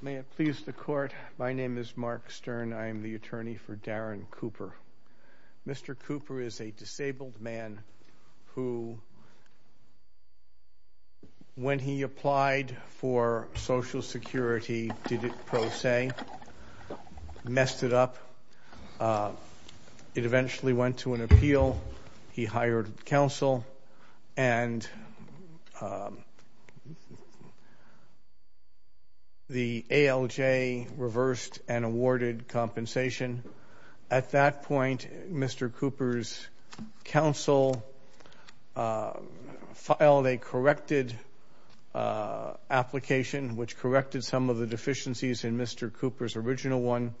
May it please the court, my name is Mark Stern, I am the attorney for Darren Cooper. Mr. Cooper is a disabled man who, when he applied for Social Security, did it pro se, messed it up. It eventually went to an appeal. He hired counsel and the ALJ reversed and awarded compensation. At that point, Mr. Cooper's counsel filed a corrected application, which corrected some of the deficiencies in Mr. Cooper's original one.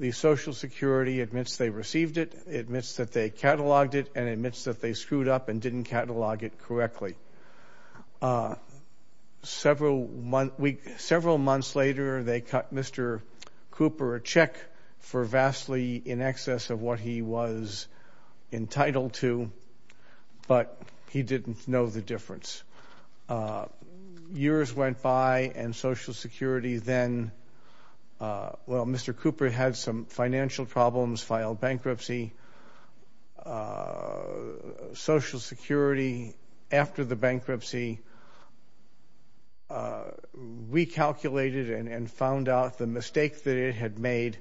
The Social Security admits they received it, admits that they cataloged it, and admits that they screwed up and didn't catalog it correctly. Several months later, they cut Mr. Cooper a check for vastly in excess of what he was entitled to, but he didn't know the difference. Years went by and Social Security then, well, Mr. Cooper had some financial problems, filed bankruptcy. Social Security, after the bankruptcy, recalculated and found out the mistake that it had made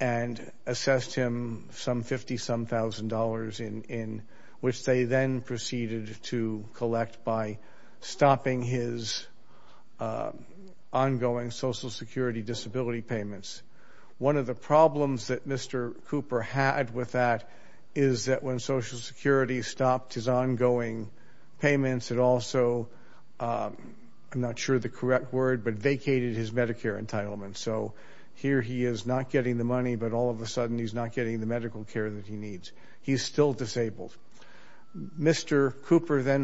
and assessed him some 50-some thousand dollars in which they then proceeded to collect by stopping his ongoing Social Security disability payments. One of the problems that Mr. Cooper had with that is that when Social Security stopped his ongoing payments, it also, I'm not sure the correct word, but vacated his Medicare entitlement. So here he is not getting the money, but all of a sudden, he's not getting the medical care that he needs. He's still disabled. Mr. Cooper then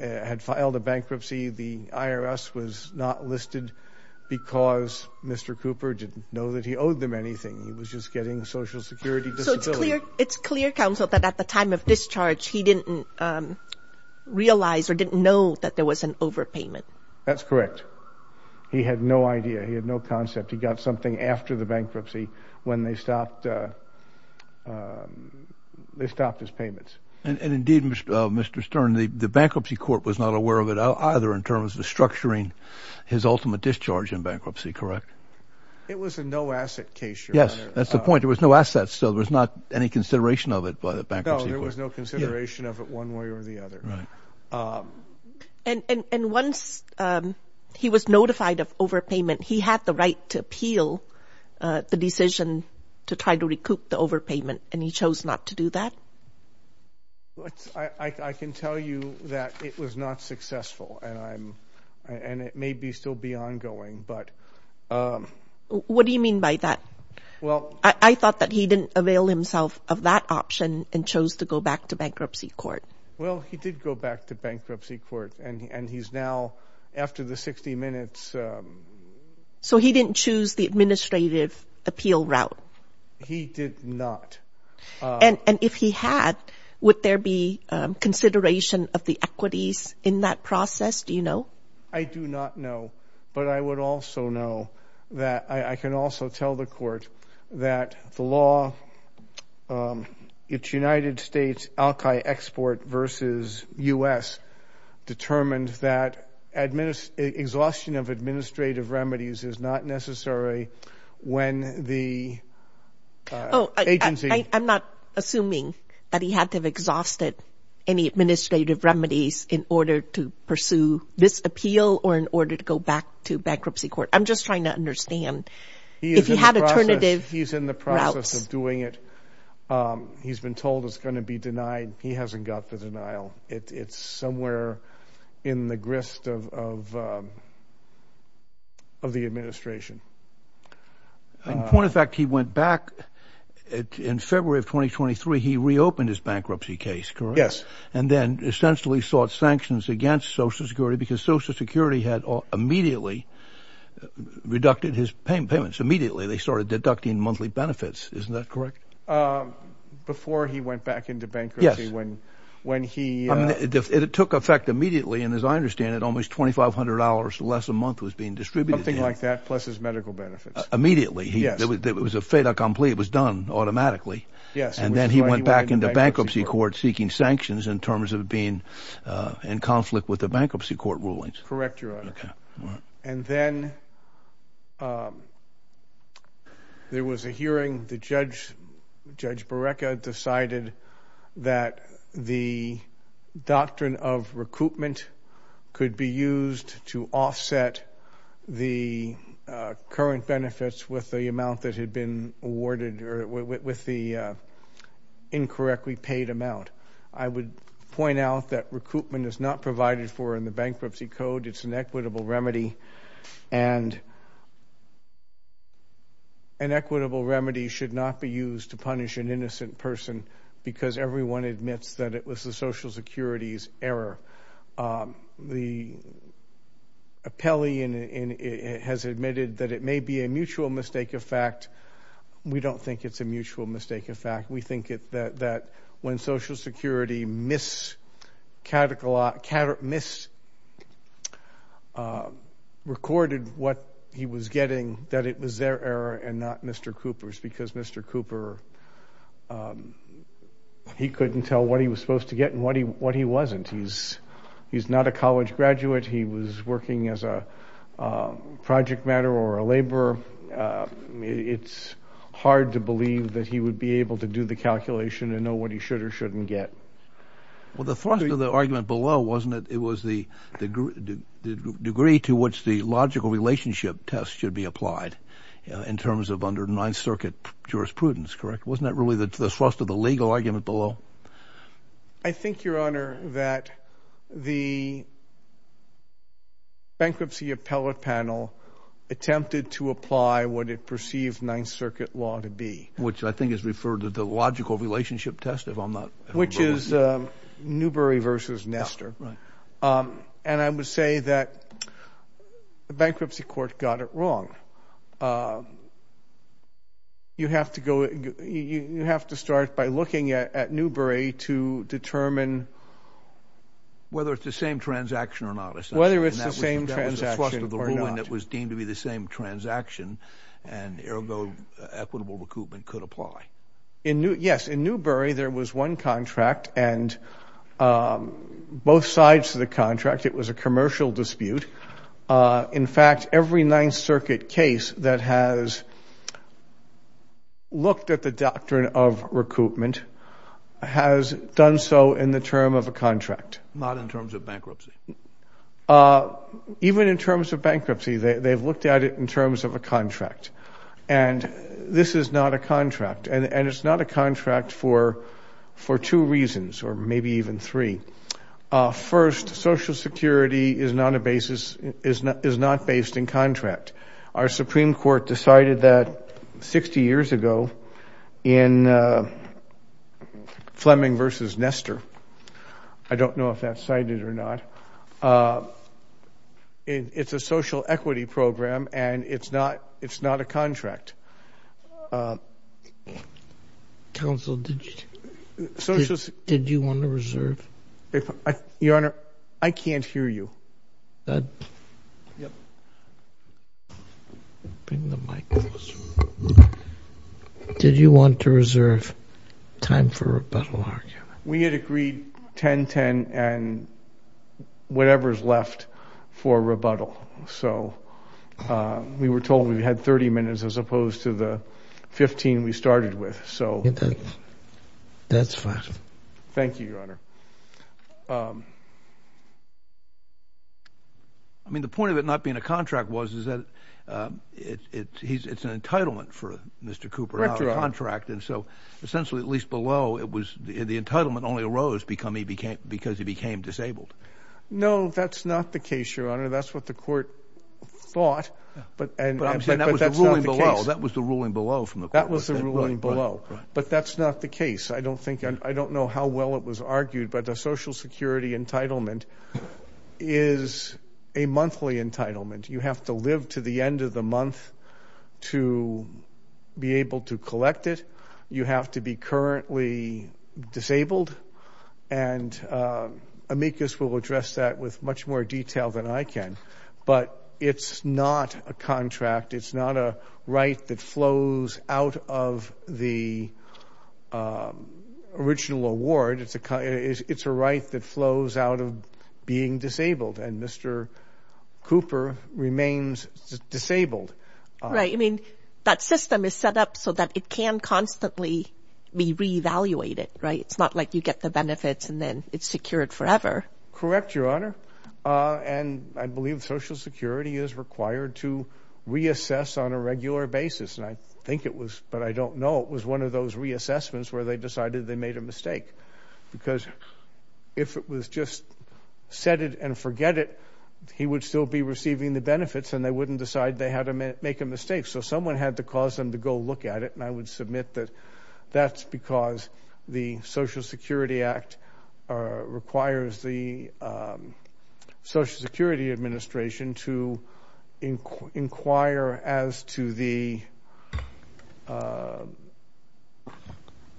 had filed a bankruptcy. The IRS was not listed because Mr. Cooper didn't know that he owed them anything. He was just getting a Social Security disability. So it's clear counsel that at the time of discharge, he didn't realize or didn't know that there was an overpayment. That's correct. He had no idea. He had no concept. He got something after the bankruptcy when they stopped his payments. And indeed, Mr. Stern, the bankruptcy court was not aware of it either in terms of structuring his ultimate discharge in bankruptcy, correct? It was a no-asset case, Your Honor. Yes, that's the point. There was no assets, so there was not any consideration of it by the bankruptcy court. No, there was no consideration of it one way or the other. And once he was notified of overpayment, he had the right to appeal the decision to try to recoup the overpayment, and he chose not to do that? I can tell you that it was not successful, and it may still be ongoing. What do you mean by that? I thought that he didn't avail himself of that option and chose to go back to bankruptcy court. Well, he did go back to bankruptcy court, and he's now after the 60 minutes. So he didn't choose the administrative appeal route? He did not. And if he had, would there be consideration of the equities in that process? Do you know? I do not know, but I would also know that I can also tell the court that the law, it's United States al-Qaeda export versus U.S. determined that exhaustion of administrative remedies is not necessary when the agency I'm not assuming that he had to have exhausted any administrative remedies in order to pursue this appeal or in order to go back to bankruptcy court. I'm just trying to understand if he had alternative routes. He's in the process of doing it. He's been told it's going to be denied. He hasn't got the denial. It's somewhere in the grist of the administration. In point of fact, he went back in February of 2023. He reopened his bankruptcy case, correct? And then essentially sought sanctions against Social Security because Social Security had immediately reducted his payments. Immediately, they started deducting monthly benefits. Isn't that correct? Before he went back into bankruptcy, when he It took effect immediately, and as I understand it, almost $2,500 less a month was being distributed. Something like that, plus his medical benefits. Immediately. It was a fait accompli. It was done automatically. And then he went back into bankruptcy court seeking sanctions in terms of being in conflict with the bankruptcy court rulings. Correct, Your Honor. And then there was a hearing. The judge, Judge Barreca, decided that the doctrine of recoupment could be used to offset the current benefits with the amount that had been awarded or with the incorrectly paid amount. I would point out that recoupment is not provided for in the bankruptcy code. It's an equitable remedy. And an equitable remedy should not be used to punish an innocent person because everyone admits that it was the Social Security's error. The appellee has admitted that it may be a mutual mistake of fact. We don't think it's a mutual mistake of fact. We think that when Social Security misrecorded what he was getting, that it was their error and not Mr. Cooper's. Because Mr. Cooper, he couldn't tell what he was supposed to get and what he wasn't. He's not a college graduate. He was working as a project matter or a laborer. It's hard to believe that he would be able to do the calculation and know what he should or shouldn't get. Well, the thrust of the argument below, wasn't it? It was the degree to which the logical relationship test should be applied in terms of under Ninth Circuit jurisprudence, correct? Wasn't that really the thrust of the legal argument below? I think, Your Honor, that the bankruptcy appellate panel attempted to apply what it perceived Ninth Circuit law to be. Which I think is referred to the logical relationship test, if I'm not wrong. Which is Newbery versus Nestor. And I would say that the bankruptcy court got it wrong. You have to start by looking at Newbery to determine... Whether it's the same transaction or not, essentially. Whether it's the same transaction or not. And that was the thrust of the ruling that was deemed to be the same transaction. And, ergo, equitable recoupment could apply. Yes. In Newbery, there was one contract and both sides of the contract. It was a commercial dispute. In fact, every Ninth Circuit case that has looked at the doctrine of recoupment has done so in the term of a contract. Not in terms of bankruptcy. Even in terms of bankruptcy, they've looked at it in terms of a contract. And this is not a contract. And it's not a contract for two reasons, or maybe even three. First, Social Security is not based in contract. Our Supreme Court decided that 60 years ago in Fleming versus Nestor. I don't know if that's cited or not. It's a social equity program and it's not a contract. Counsel, did you want to reserve? Your Honor, I can't hear you. Did you want to reserve time for rebuttal argument? We had agreed 10-10 and whatever's left for rebuttal. We were told we had 30 minutes as opposed to the 15 we started with. That's fine. Thank you, Your Honor. The point of it not being a contract was that it's an entitlement for Mr. Cooper to have a contract. Essentially, at least below, the entitlement only arose because he became disabled. No, that's not the case, Your Honor. That's what the court thought, but that's not the case. That was the ruling below from the court. That was the ruling below, but that's not the case. I don't know how well it was argued, but a Social Security entitlement is a monthly entitlement. You have to live to the end of the month to be able to collect it. You have to be currently disabled, and amicus will address that with much more detail than I can, but it's not a contract. It's not a right that flows out of the original award. It's a right that flows out of being disabled, and Mr. Cooper remains disabled. Right. I mean, that system is set up so that it can constantly be reevaluated, right? It's not like you get the benefits and then it's secured forever. Correct, Your Honor, and I believe Social Security is required to reassess on a regular basis, and I think it was, but I don't know. It was one of those reassessments where they decided they made a mistake because if it was just set it and forget it, he would still be receiving the benefits and they wouldn't decide they had to make a mistake. So someone had to cause them to go look at it, and I would submit that that's because the Social Security Act requires the Social Security Administration to inquire as to the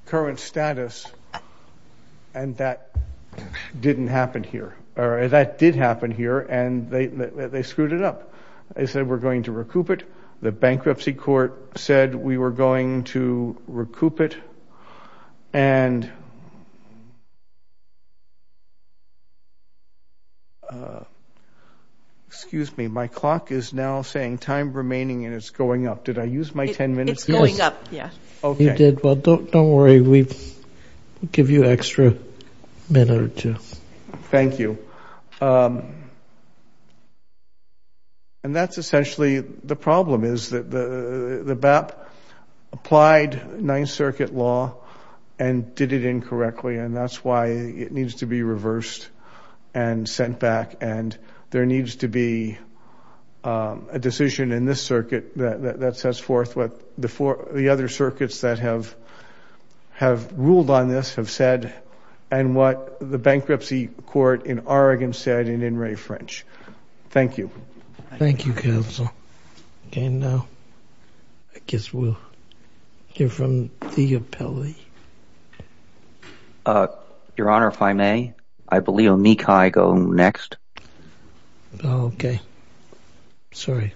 current status, and that didn't happen here, or that did happen here, and they screwed it up. They said we're going to recoup it. Excuse me. My clock is now saying time remaining, and it's going up. Did I use my 10 minutes? It's going up, yeah. Okay. You did. Well, don't worry. We'll give you an extra minute or two. Thank you. And that's essentially the problem is that the BAP applied Ninth Circuit law and did it incorrectly, and that's why it needs to be reversed and sent back, and there needs to be a decision in this circuit that sets forth what the other circuits that have ruled on this have said, and what the bankruptcy court in Oregon said in in re French. Thank you. Thank you, counsel. And I guess we'll hear from the appellee. Your Honor, if I may, I believe Omikai go next. Sorry.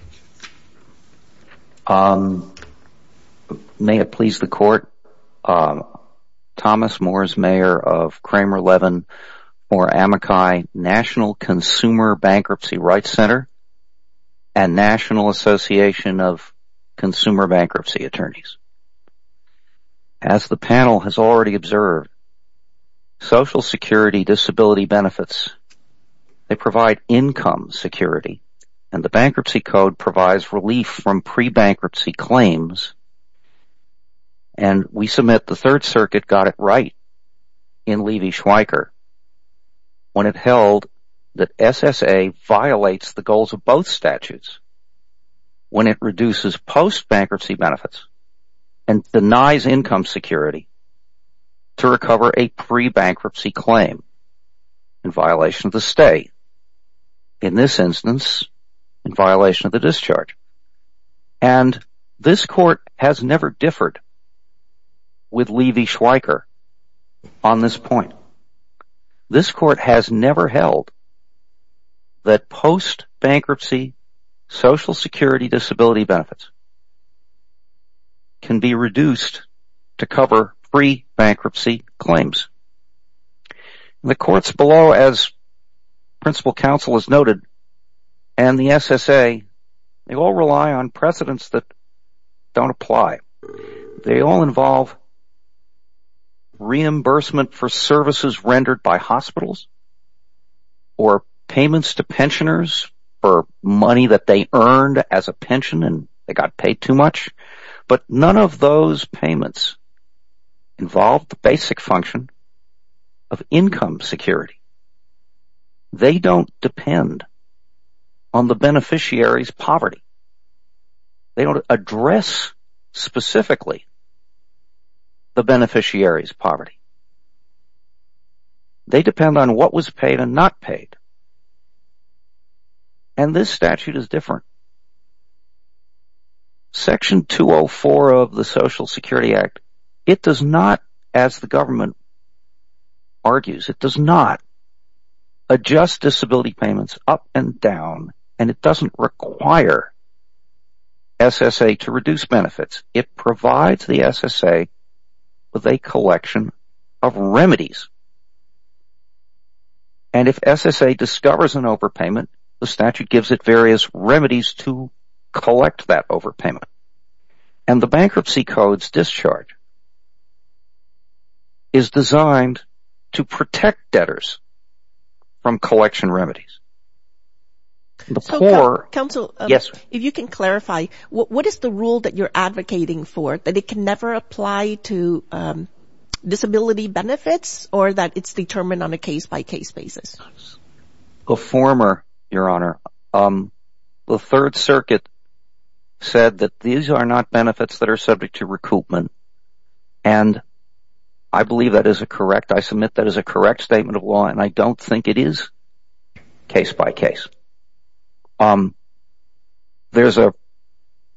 May it please the court. Thomas Moore is mayor of Kramer-Levin or Amakai National Consumer Bankruptcy Rights Center and National Association of Consumer Bankruptcy Attorneys. As the panel has already observed, social security disability benefits, they provide income security, and the bankruptcy code provides relief from pre-bankruptcy claims, and we submit the Third Circuit got it right in Levy-Schweiker when it held that SSA violates the goals of both statutes when it reduces post-bankruptcy benefits and denies income security to recover a pre-bankruptcy claim in violation of the stay. In this instance, in violation of the discharge. And this court has never differed with Levy-Schweiker on this point. This court has never held that post-bankruptcy social security disability benefits can be reduced to cover pre-bankruptcy claims. The courts below, as principal counsel has noted, and the SSA, they all rely on precedents that don't apply. They all involve reimbursement for services rendered by hospitals or payments to pensioners for money that they earned as a pension and they got paid too much. But none of those payments involve the basic function of income security. They don't depend on the beneficiary's poverty. They don't address specifically the beneficiary's poverty. They depend on what was paid and not paid. And this statute is different. Section 204 of the Social Security Act, it does not, as the government argues, it does not adjust disability payments up and down and it doesn't require SSA to reduce benefits. It provides the SSA with a collection of remedies. And if SSA discovers an overpayment, the statute gives it various remedies to collect that overpayment. And the Bankruptcy Codes Discharge is designed to protect debtors from collection remedies. Counsel, if you can clarify, what is the rule that you're advocating for? That it can never apply to disability benefits or that it's determined on a case-by-case basis? The former, Your Honor. The Third Circuit said that these are not benefits that are subject to recoupment. And I believe that is a correct, I submit that is a correct statement of law and I don't think it is case-by-case. There's a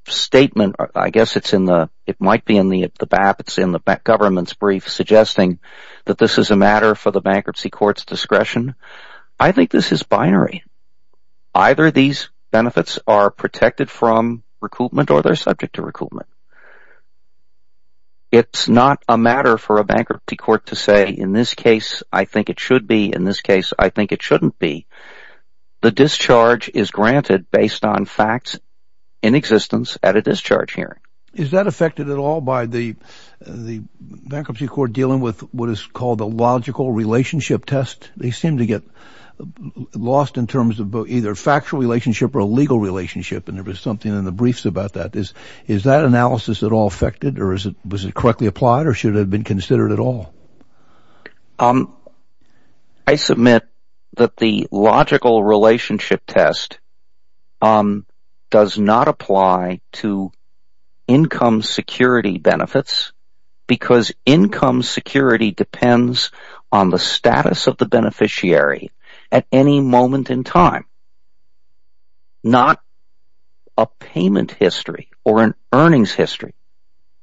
statement, I guess it's in the, it might be in the BAP, it's in the government's brief suggesting that this is a matter for the Bankruptcy Courts' discretion. I think this is binary. Either these benefits are protected from recoupment or they're subject to recoupment. It's not a matter for a Bankruptcy Court to say, in this case, I think it should be. In this case, I think it shouldn't be. The discharge is granted based on facts in existence at a discharge hearing. Is that affected at all by the Bankruptcy Court dealing with what is called a logical relationship test? They seem to get lost in terms of either factual relationship or a legal relationship. And there was something in the briefs about that. Is that analysis at all affected or was it correctly applied or should it have been considered at all? I submit that the logical relationship test does not apply to income security benefits because income security depends on the status of the beneficiary at any moment in time, not a payment history or an earnings history.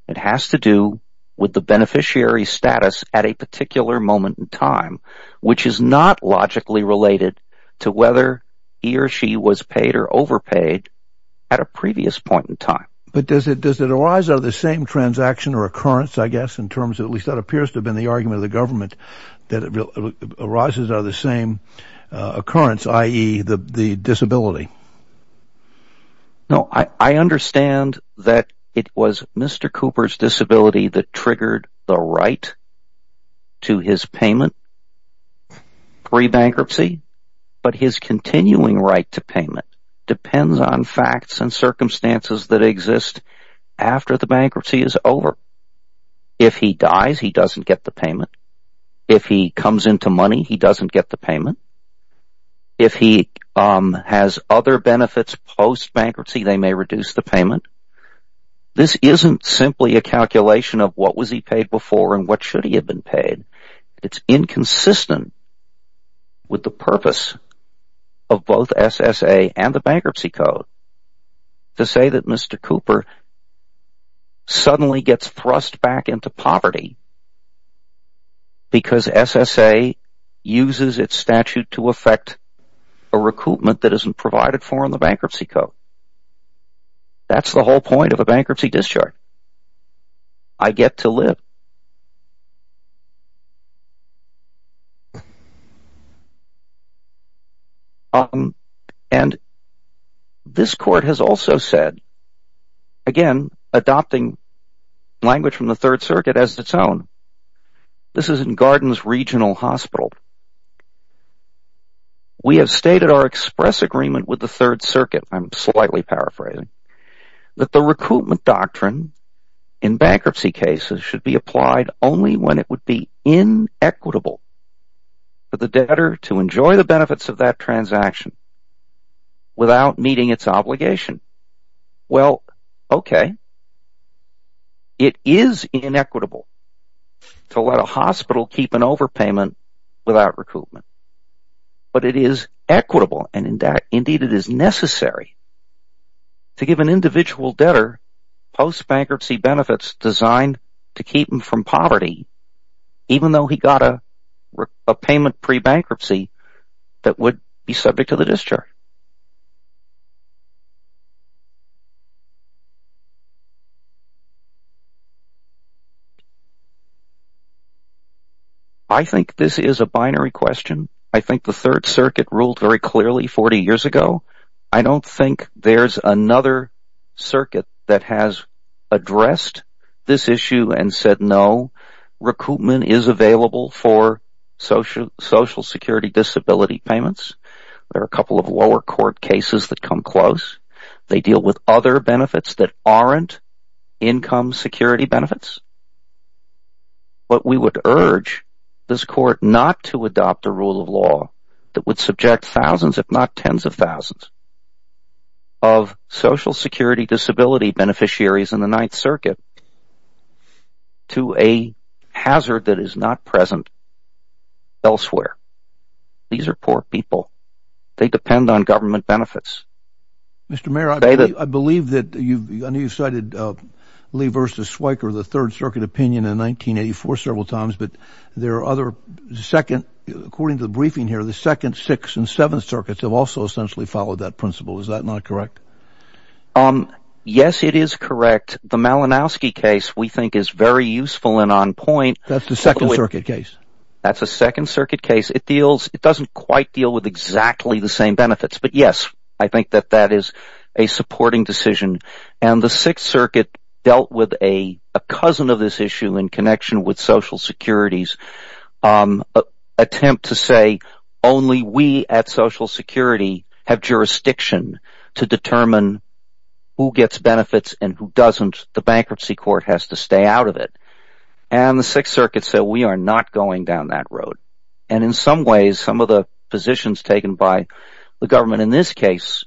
It has to do with the beneficiary's status at a particular moment in time, which is not logically related to whether he or she was paid or overpaid at a previous point in time. But does it arise out of the same transaction or occurrence, I guess, in terms of, at least that appears to have been the argument of the government, that it arises out of the same occurrence, i.e., the disability? No, I understand that it was Mr. Cooper's disability that triggered the right to his payment pre-bankruptcy, but his continuing right to payment depends on facts and circumstances that exist after the bankruptcy is over. If he dies, he doesn't get the payment. If he comes into money, he doesn't get the payment. If he has other benefits post-bankruptcy, they may reduce the payment. This isn't simply a calculation of what was he paid before and what should he have been paid. It's inconsistent with the purpose of both SSA and the Bankruptcy Code to say that Mr. Cooper suddenly gets thrust back into poverty because SSA uses its statute to effect a recoupment that isn't provided for in the Bankruptcy Code. That's the whole point of a bankruptcy discharge. I get to live. And this court has also said – again, adopting language from the Third Circuit as its own – this is in Gardens Regional Hospital. We have stated our express agreement with the Third Circuit – I'm slightly paraphrasing – that the recoupment doctrine in bankruptcy cases should be applied only when it would be inequitable for the debtor to enjoy the benefits of that transaction without meeting its obligation. Well, okay, it is inequitable to let a hospital keep an overpayment without recoupment, but it is equitable and, indeed, it is necessary to give an individual debtor post-bankruptcy benefits designed to keep him from poverty even though he got a payment pre-bankruptcy that would be subject to the discharge. I think this is a binary question. I think the Third Circuit ruled very clearly 40 years ago. I don't think there's another circuit that has addressed this issue and said, No, recoupment is available for social security disability payments. There are a couple of lower court cases that come close. They deal with other benefits that aren't income security benefits. But we would urge this court not to adopt a rule of law that would subject thousands, if not tens of thousands, of social security disability beneficiaries in the Ninth Circuit to a hazard that is not present elsewhere. These are poor people. They depend on government benefits. Mr. Mayor, I believe that you cited Lee v. Schweiker, the Third Circuit opinion, in 1984 several times, but according to the briefing here, the Second, Sixth, and Seventh Circuits have also essentially followed that principle. Is that not correct? Yes, it is correct. The Malinowski case, we think, is very useful and on point. That's the Second Circuit case. That's the Second Circuit case. It doesn't quite deal with exactly the same benefits. But, yes, I think that that is a supporting decision. The Sixth Circuit dealt with a cousin of this issue in connection with social security's attempt to say, only we at social security have jurisdiction to determine who gets benefits and who doesn't. The bankruptcy court has to stay out of it. The Sixth Circuit said, we are not going down that road. In some ways, some of the positions taken by the government in this case,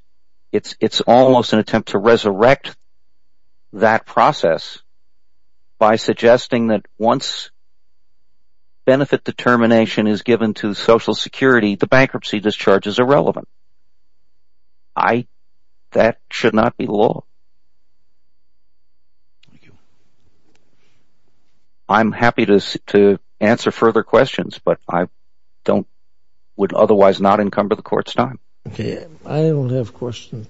it's almost an attempt to resurrect that process by suggesting that once benefit determination is given to social security, the bankruptcy discharge is irrelevant. That should not be the law. Thank you. I'm happy to answer further questions, but I would otherwise not encumber the court's time. Okay. I don't have questions.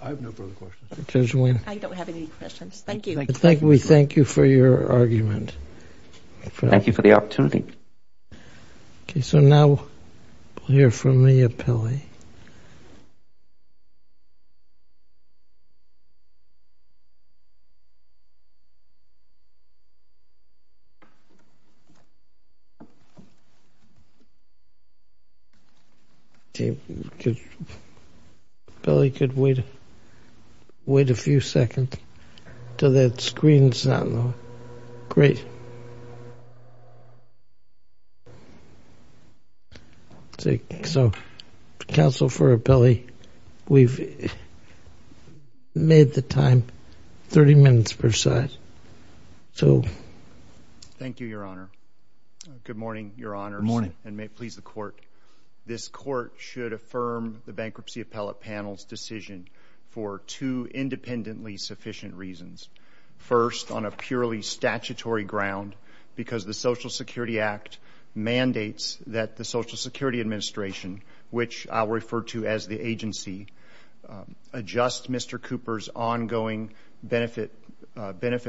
I have no further questions. I don't have any questions. Thank you. We thank you for your argument. Thank you for the opportunity. Okay, so now we'll hear from Mia Pili. Pili, you could wait a few seconds until that screen is on. Great. So, counsel for Pili, we've made the time 30 minutes per side. Thank you, Your Honor. Good morning, Your Honor, and may it please the court. This court should affirm the bankruptcy appellate panel's decision for two independently sufficient reasons. First, on a purely statutory ground, because the Social Security Act mandates that the Social Security Administration, which I'll refer to as the agency, adjust Mr. Cooper's ongoing benefit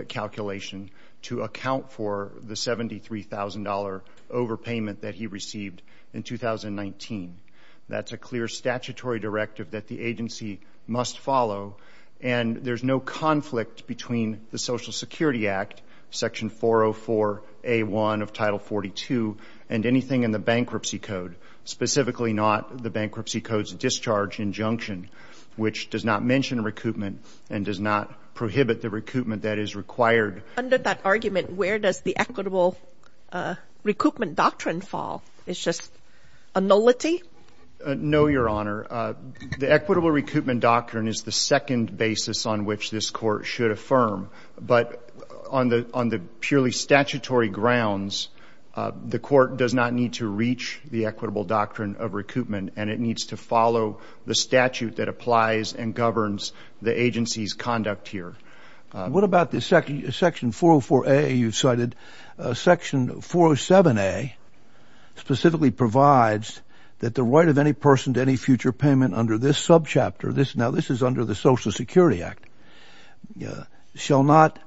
calculation to account for the $73,000 overpayment that he received in 2019. That's a clear statutory directive that the agency must follow, and there's no conflict between the Social Security Act, Section 404A1 of Title 42, and anything in the bankruptcy code, specifically not the bankruptcy code's discharge injunction, which does not mention recoupment and does not prohibit the recoupment that is required. Under that argument, where does the equitable recoupment doctrine fall? It's just a nullity? No, Your Honor. The equitable recoupment doctrine is the second basis on which this court should affirm, but on the purely statutory grounds, the court does not need to reach the equitable doctrine of recoupment, and it needs to follow the statute that applies and governs the agency's conduct here. What about the Section 404A you cited? Section 407A specifically provides that the right of any person to any future payment under this subchapter, now this is under the Social Security Act, shall not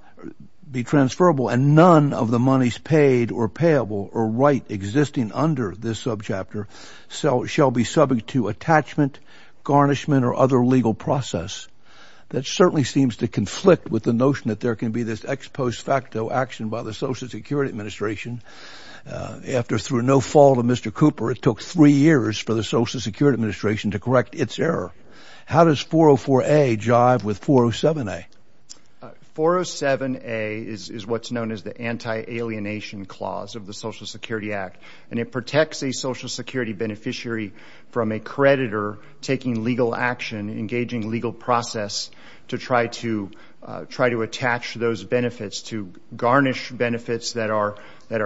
be transferable, and none of the monies paid or payable or right existing under this subchapter shall be subject to attachment, garnishment, or other legal process. That certainly seems to conflict with the notion that there can be this ex post facto action by the Social Security Administration after through no fault of Mr. Cooper, it took three years for the Social Security Administration to correct its error. How does 404A jive with 407A? 407A is what's known as the anti-alienation clause of the Social Security Act, and it protects a Social Security beneficiary from a creditor taking legal action, engaging legal process, to try to attach those benefits, to garnish benefits that are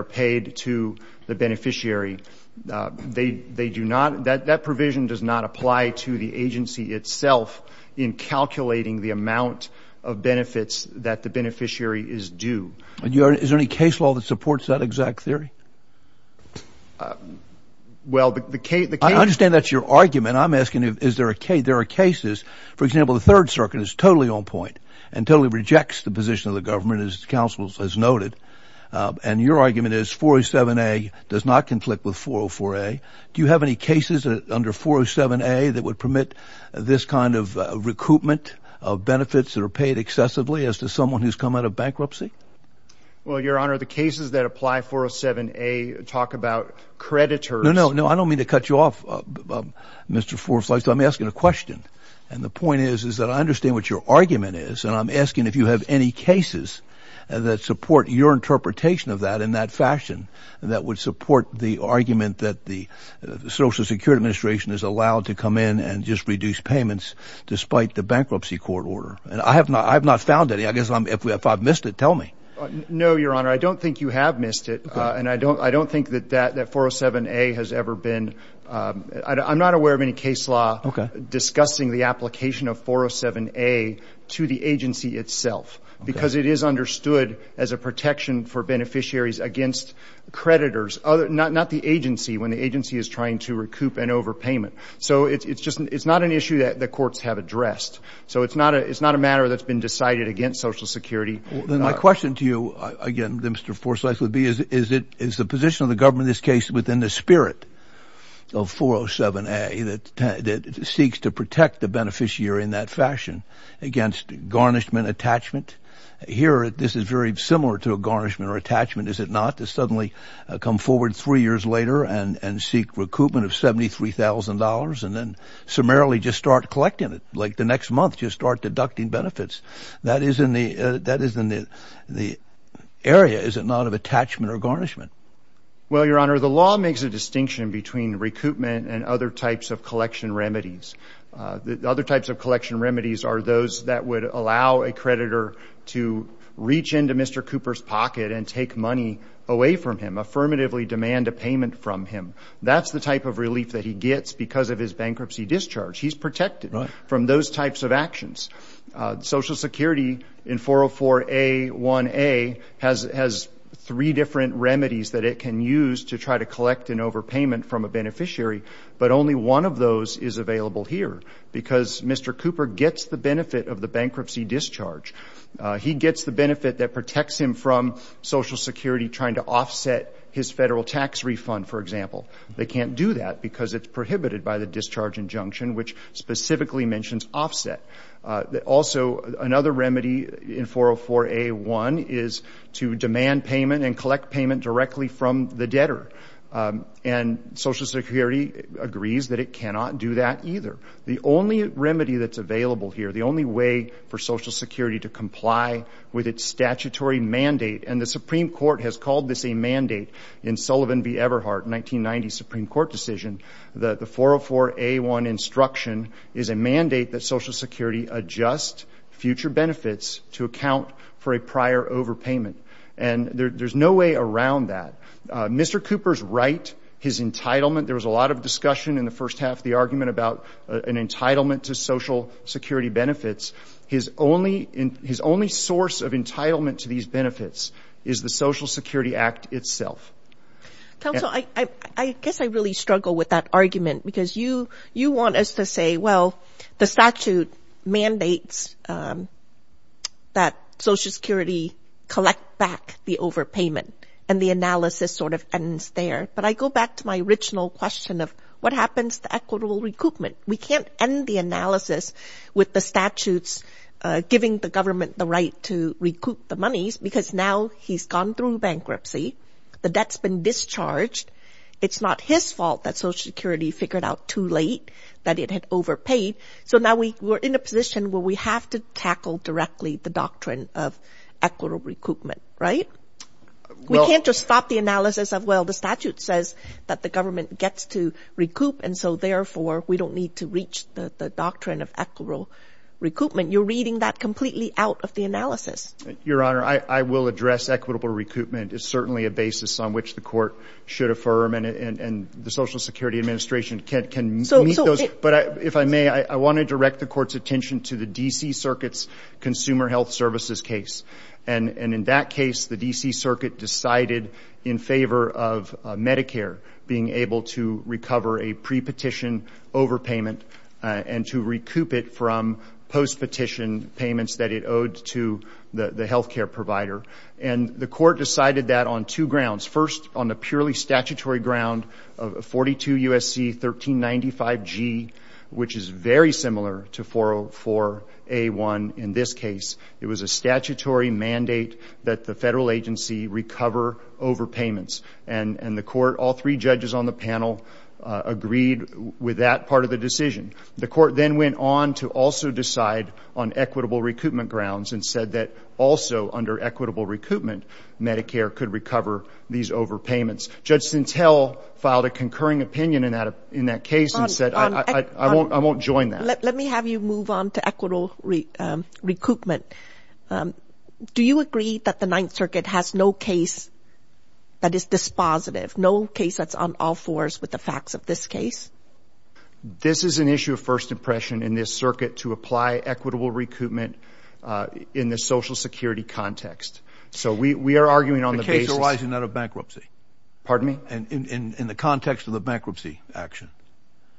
paid to the beneficiary. That provision does not apply to the agency itself in calculating the amount of benefits that the beneficiary is due. Is there any case law that supports that exact theory? I understand that's your argument. I'm asking is there a case. There are cases, for example, the Third Circuit is totally on point and totally rejects the position of the government as counsel has noted, and your argument is 407A does not conflict with 404A. Do you have any cases under 407A that would permit this kind of recoupment of benefits that are paid excessively as to someone who's come out of bankruptcy? Well, Your Honor, the cases that apply 407A talk about creditors. No, no, no. I don't mean to cut you off, Mr. Forsythe. I'm asking a question, and the point is that I understand what your argument is, and I'm asking if you have any cases that support your interpretation of that in that fashion that would support the argument that the Social Security Administration is allowed to come in and just reduce payments despite the bankruptcy court order. And I have not found any. I guess if I've missed it, tell me. No, Your Honor, I don't think you have missed it, and I don't think that 407A has ever been. I'm not aware of any case law discussing the application of 407A to the agency itself because it is understood as a protection for beneficiaries against creditors, not the agency when the agency is trying to recoup an overpayment. So it's just not an issue that the courts have addressed. So it's not a matter that's been decided against Social Security. Then my question to you, again, Mr. Forsythe, would be, is the position of the government in this case within the spirit of 407A that seeks to protect the beneficiary in that fashion against garnishment, attachment? Here, this is very similar to a garnishment or attachment, is it not, to suddenly come forward three years later and seek recoupment of $73,000 and then summarily just start collecting it, like the next month just start deducting benefits? That is in the area, is it not, of attachment or garnishment? Well, Your Honor, the law makes a distinction between recoupment and other types of collection remedies. Other types of collection remedies are those that would allow a creditor to reach into Mr. Cooper's pocket and take money away from him, affirmatively demand a payment from him. That's the type of relief that he gets because of his bankruptcy discharge. He's protected from those types of actions. Social Security in 404A1A has three different remedies that it can use to try to collect an overpayment from a beneficiary, but only one of those is available here because Mr. Cooper gets the benefit of the bankruptcy discharge. He gets the benefit that protects him from Social Security trying to offset his federal tax refund, for example. They can't do that because it's prohibited by the discharge injunction, which specifically mentions offset. Also, another remedy in 404A1 is to demand payment and collect payment directly from the debtor, and Social Security agrees that it cannot do that either. The only remedy that's available here, the only way for Social Security to comply with its statutory mandate, and the Supreme Court has called this a mandate in Sullivan v. Everhart, 1990 Supreme Court decision, that the 404A1 instruction is a mandate that Social Security adjust future benefits to account for a prior overpayment, and there's no way around that. Mr. Cooper's right, his entitlement, there was a lot of discussion in the first half of the argument about an entitlement to Social Security benefits. His only source of entitlement to these benefits is the Social Security Act itself. Counsel, I guess I really struggle with that argument because you want us to say, well, the statute mandates that Social Security collect back the overpayment, and the analysis sort of ends there, but I go back to my original question of what happens to equitable recoupment? We can't end the analysis with the statutes giving the government the right to recoup the monies because now he's gone through bankruptcy. The debt's been discharged. It's not his fault that Social Security figured out too late that it had overpaid, so now we're in a position where we have to tackle directly the doctrine of equitable recoupment, right? We can't just stop the analysis of, well, the statute says that the government gets to recoup, and so therefore we don't need to reach the doctrine of equitable recoupment. You're reading that completely out of the analysis. Your Honor, I will address equitable recoupment. It's certainly a basis on which the Court should affirm, and the Social Security Administration can meet those, but if I may, I want to direct the Court's attention to the D.C. Circuit's consumer health services case, and in that case, the D.C. Circuit decided in favor of Medicare being able to recover a pre-petition overpayment and to recoup it from post-petition payments that it owed to the health care provider, and the Court decided that on two grounds. First, on the purely statutory ground of 42 U.S.C. 1395G, which is very similar to 404A1 in this case. It was a statutory mandate that the federal agency recover overpayments, and the Court, all three judges on the panel agreed with that part of the decision. The Court then went on to also decide on equitable recoupment grounds and said that also under equitable recoupment, Medicare could recover these overpayments. Judge Sintel filed a concurring opinion in that case and said, I won't join that. Let me have you move on to equitable recoupment. Do you agree that the Ninth Circuit has no case that is dispositive, no case that's on all fours with the facts of this case? This is an issue of first impression in this circuit to apply equitable recoupment in the Social Security context. So we are arguing on the basis— The case arising out of bankruptcy. Pardon me? In the context of the bankruptcy action.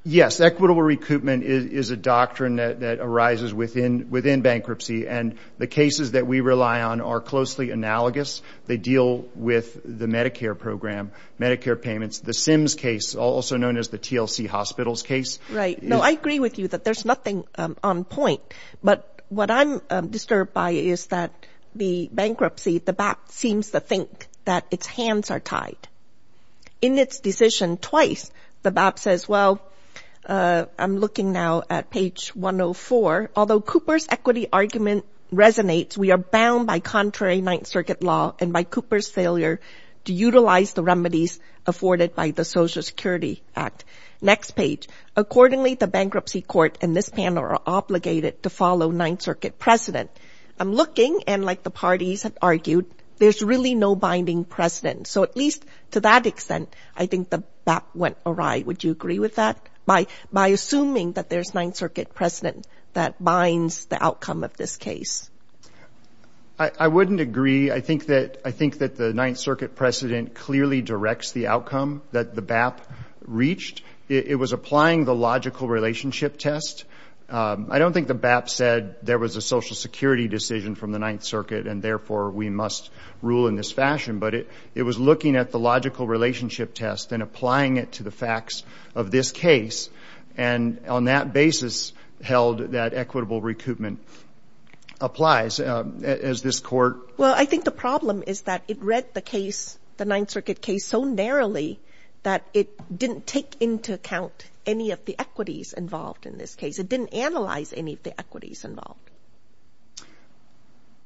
Yes, equitable recoupment is a doctrine that arises within bankruptcy, and the cases that we rely on are closely analogous. They deal with the Medicare program, Medicare payments, the SIMS case, also known as the TLC Hospitals case. Right. No, I agree with you that there's nothing on point, but what I'm disturbed by is that the bankruptcy, the BAP, seems to think that its hands are tied. In its decision twice, the BAP says, well, I'm looking now at page 104. Although Cooper's equity argument resonates, we are bound by contrary Ninth Circuit law and by Cooper's failure to utilize the remedies afforded by the Social Security Act. Next page. Accordingly, the bankruptcy court and this panel are obligated to follow Ninth Circuit precedent. I'm looking, and like the parties have argued, there's really no binding precedent. So at least to that extent, I think the BAP went awry. Would you agree with that? By assuming that there's Ninth Circuit precedent that binds the outcome of this case. I wouldn't agree. I think that the Ninth Circuit precedent clearly directs the outcome that the BAP reached. It was applying the logical relationship test. I don't think the BAP said there was a Social Security decision from the Ninth Circuit, and therefore we must rule in this fashion, but it was looking at the logical relationship test and applying it to the facts of this case. And on that basis held that equitable recoupment applies as this court. Well, I think the problem is that it read the case, the Ninth Circuit case, so narrowly that it didn't take into account any of the equities involved in this case. It didn't analyze any of the equities involved.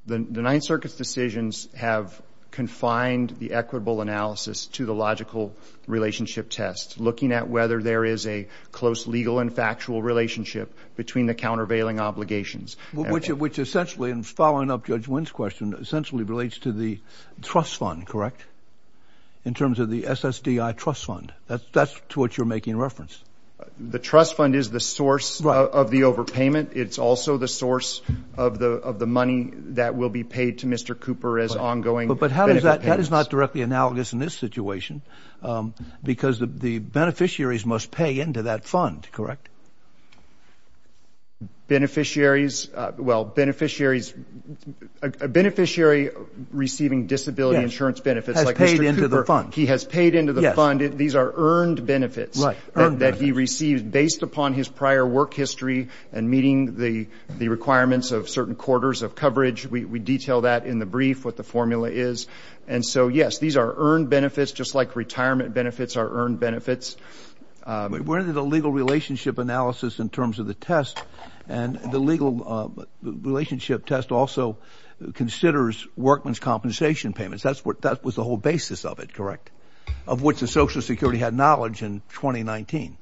The Ninth Circuit's decisions have confined the equitable analysis to the logical relationship test, looking at whether there is a close legal and factual relationship between the countervailing obligations. Which essentially, in following up Judge Wynn's question, essentially relates to the trust fund, correct? In terms of the SSDI trust fund. That's to what you're making reference. The trust fund is the source of the overpayment. It's also the source of the money that will be paid to Mr. Cooper as ongoing benefit payments. But that is not directly analogous in this situation, because the beneficiaries must pay into that fund, correct? Beneficiaries, well, beneficiaries, a beneficiary receiving disability insurance benefits like Mr. Cooper. Yes, has paid into the fund. He has paid into the fund. These are earned benefits. Right, earned benefits. That he received based upon his prior work history and meeting the requirements of certain quarters of coverage. We detail that in the brief, what the formula is. And so, yes, these are earned benefits, just like retirement benefits are earned benefits. We're into the legal relationship analysis in terms of the test, and the legal relationship test also considers workman's compensation payments. That was the whole basis of it, correct? Of which the Social Security had knowledge in 2019.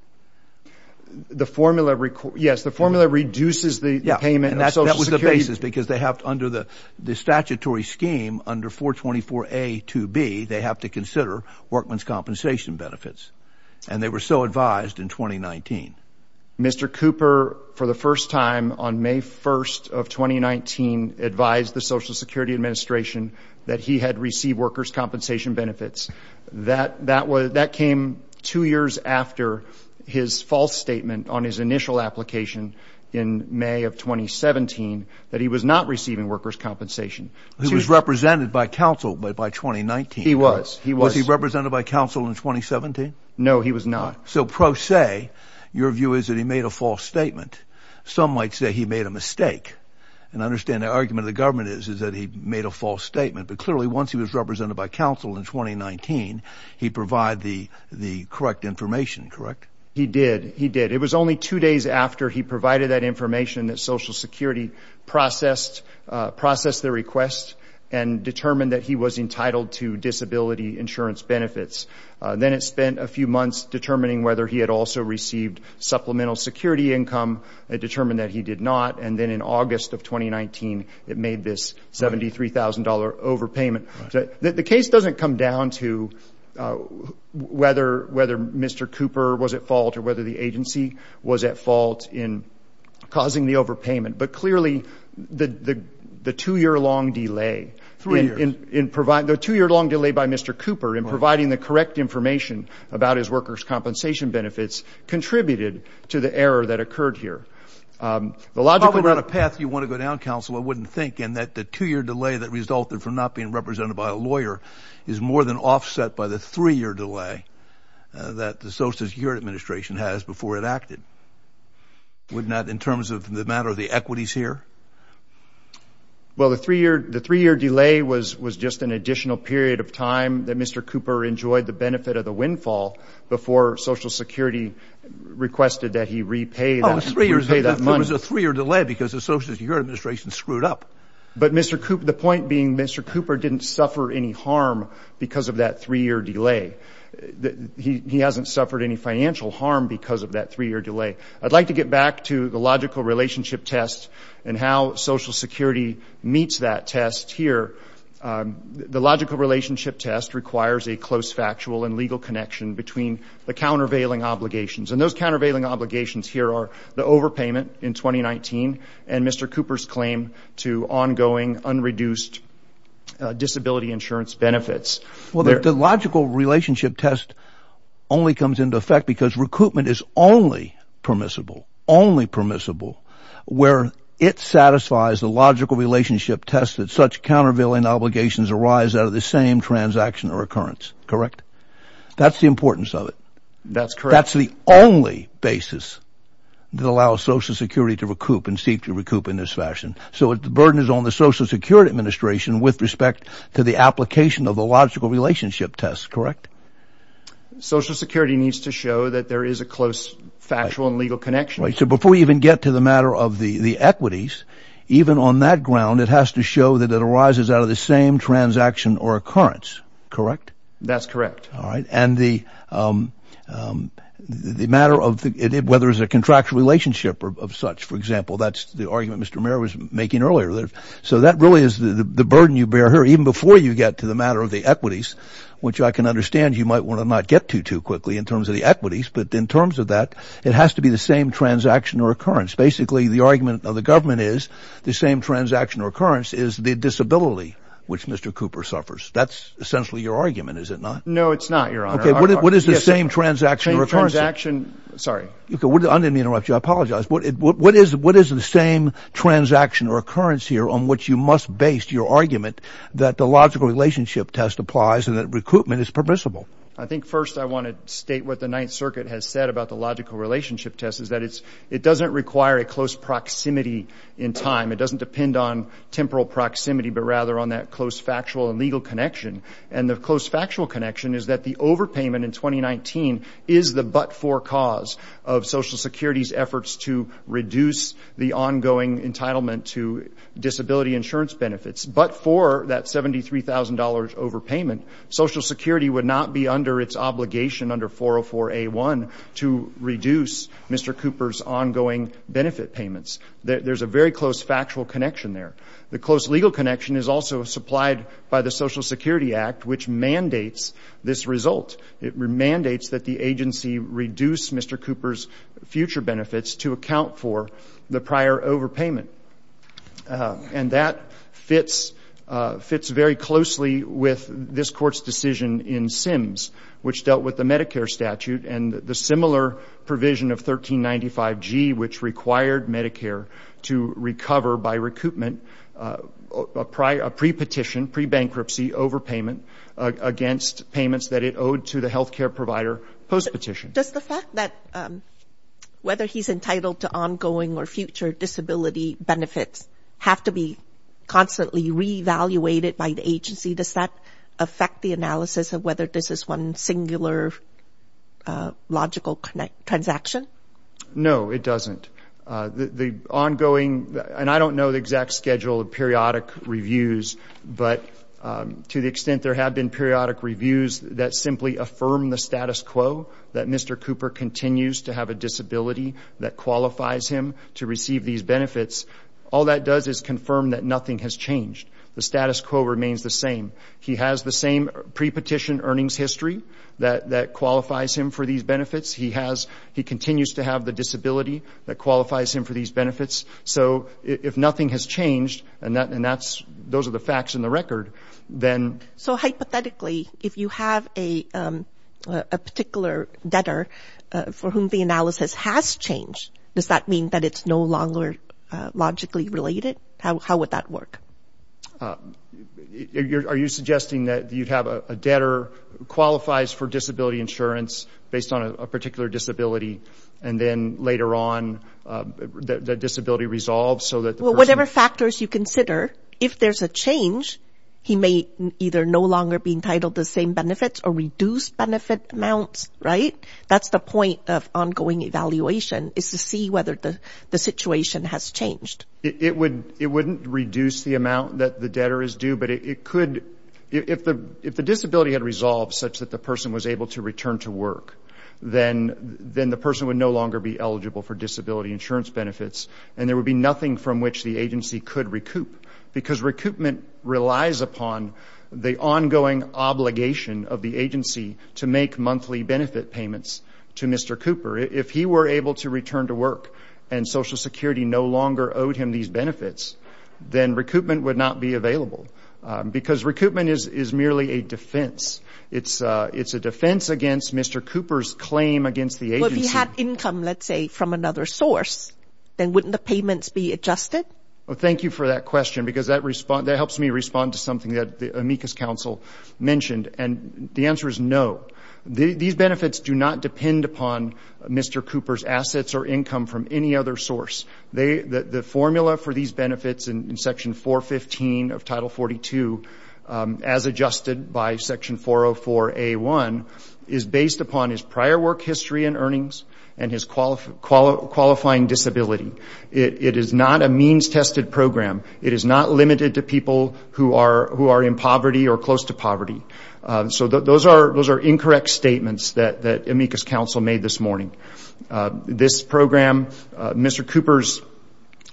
The formula, yes, the formula reduces the payment of Social Security. Yeah, and that was the basis, because they have, under the statutory scheme, under 424A-2B, they have to consider workman's compensation benefits. And they were so advised in 2019. Mr. Cooper, for the first time on May 1st of 2019, advised the Social Security Administration that he had received worker's compensation benefits. That came two years after his false statement on his initial application in May of 2017 that he was not receiving worker's compensation. He was represented by counsel by 2019. He was. Was he represented by counsel in 2017? No, he was not. So, pro se, your view is that he made a false statement. Some might say he made a mistake. And I understand the argument of the government is that he made a false statement. But clearly, once he was represented by counsel in 2019, he provided the correct information, correct? He did. He did. It was only two days after he provided that information that Social Security processed the request and determined that he was entitled to disability insurance benefits. Then it spent a few months determining whether he had also received supplemental security income. It determined that he did not. And then in August of 2019, it made this $73,000 overpayment. The case doesn't come down to whether Mr. Cooper was at fault or whether the agency was at fault in causing the overpayment. But clearly, the two-year-long delay. Three years. The two-year-long delay by Mr. Cooper in providing the correct information about his worker's compensation benefits contributed to the error that occurred here. Probably not a path you want to go down, counsel, I wouldn't think, in that the two-year delay that resulted from not being represented by a lawyer is more than offset by the three-year delay that the Social Security Administration has before it acted. Wouldn't that, in terms of the matter of the equities here? Well, the three-year delay was just an additional period of time that Mr. Cooper enjoyed the benefit of the windfall before Social Security requested that he repay that. There was a three-year delay because the Social Security Administration screwed up. But the point being Mr. Cooper didn't suffer any harm because of that three-year delay. He hasn't suffered any financial harm because of that three-year delay. I'd like to get back to the logical relationship test and how Social Security meets that test here. The logical relationship test requires a close factual and legal connection between the countervailing obligations. And those countervailing obligations here are the overpayment in 2019 and Mr. Cooper's claim to ongoing, unreduced disability insurance benefits. Well, the logical relationship test only comes into effect because recoupment is only permissible, only permissible where it satisfies the logical relationship test that such countervailing obligations arise out of the same transaction or occurrence, correct? That's the importance of it. That's correct. That's the only basis that allows Social Security to recoup and seek to recoup in this fashion. So the burden is on the Social Security Administration with respect to the application of the logical relationship test, correct? Social Security needs to show that there is a close factual and legal connection. Right. So before we even get to the matter of the equities, even on that ground it has to show that it arises out of the same transaction or occurrence, correct? That's correct. All right. And the matter of whether it's a contractual relationship of such, for example, that's the argument Mr. Merrill was making earlier. So that really is the burden you bear here even before you get to the matter of the equities, which I can understand you might want to not get to too quickly in terms of the equities, but in terms of that it has to be the same transaction or occurrence. Basically the argument of the government is the same transaction or occurrence is the disability which Mr. Cooper suffers. That's essentially your argument, is it not? No, it's not, Your Honor. Okay. What is the same transaction or occurrence? Same transaction. Sorry. I didn't mean to interrupt you. I apologize. What is the same transaction or occurrence here on which you must base your argument that the logical relationship test applies and that recruitment is permissible? I think first I want to state what the Ninth Circuit has said about the logical relationship test is that it doesn't require a close proximity in time. It doesn't depend on temporal proximity, but rather on that close factual and legal connection. And the close factual connection is that the overpayment in 2019 is the but-for cause of Social Security's efforts to reduce the ongoing entitlement to disability insurance benefits. But for that $73,000 overpayment, Social Security would not be under its obligation under 404A1 to reduce Mr. Cooper's ongoing benefit payments. There's a very close factual connection there. The close legal connection is also supplied by the Social Security Act, which mandates this result. It mandates that the agency reduce Mr. Cooper's future benefits to account for the prior overpayment. And that fits very closely with this Court's decision in Sims, which dealt with the Medicare statute and the similar provision of 1395G, which required Medicare to recover by recoupment a pre-petition, pre-bankruptcy overpayment against payments that it owed to the health care provider post-petition. Does the fact that whether he's entitled to ongoing or future disability benefits have to be constantly re-evaluated by the agency? Does that affect the analysis of whether this is one singular logical transaction? No, it doesn't. The ongoing, and I don't know the exact schedule of periodic reviews, but to the extent there have been periodic reviews that simply affirm the status quo, that Mr. Cooper continues to have a disability that qualifies him to receive these benefits, all that does is confirm that nothing has changed. The status quo remains the same. He has the same pre-petition earnings history that qualifies him for these benefits. He continues to have the disability that qualifies him for these benefits. So if nothing has changed, and those are the facts in the record, then— So hypothetically, if you have a particular debtor for whom the analysis has changed, does that mean that it's no longer logically related? How would that work? Are you suggesting that you'd have a debtor who qualifies for disability insurance based on a particular disability, and then later on the disability resolves so that the person— Well, whatever factors you consider, if there's a change, he may either no longer be entitled to the same benefits or reduce benefit amounts, right? That's the point of ongoing evaluation, is to see whether the situation has changed. It wouldn't reduce the amount that the debtor is due, but it could— if the disability had resolved such that the person was able to return to work, then the person would no longer be eligible for disability insurance benefits, and there would be nothing from which the agency could recoup, because recoupment relies upon the ongoing obligation of the agency to make monthly benefit payments to Mr. Cooper. If he were able to return to work and Social Security no longer owed him these benefits, then recoupment would not be available, because recoupment is merely a defense. It's a defense against Mr. Cooper's claim against the agency. Well, if he had income, let's say, from another source, then wouldn't the payments be adjusted? Well, thank you for that question, because that helps me respond to something that the amicus council mentioned, and the answer is no. These benefits do not depend upon Mr. Cooper's assets or income from any other source. The formula for these benefits in Section 415 of Title 42, as adjusted by Section 404A1, is based upon his prior work history and earnings and his qualifying disability. It is not a means-tested program. It is not limited to people who are in poverty or close to poverty. So those are incorrect statements that amicus council made this morning. This program, Mr. Cooper's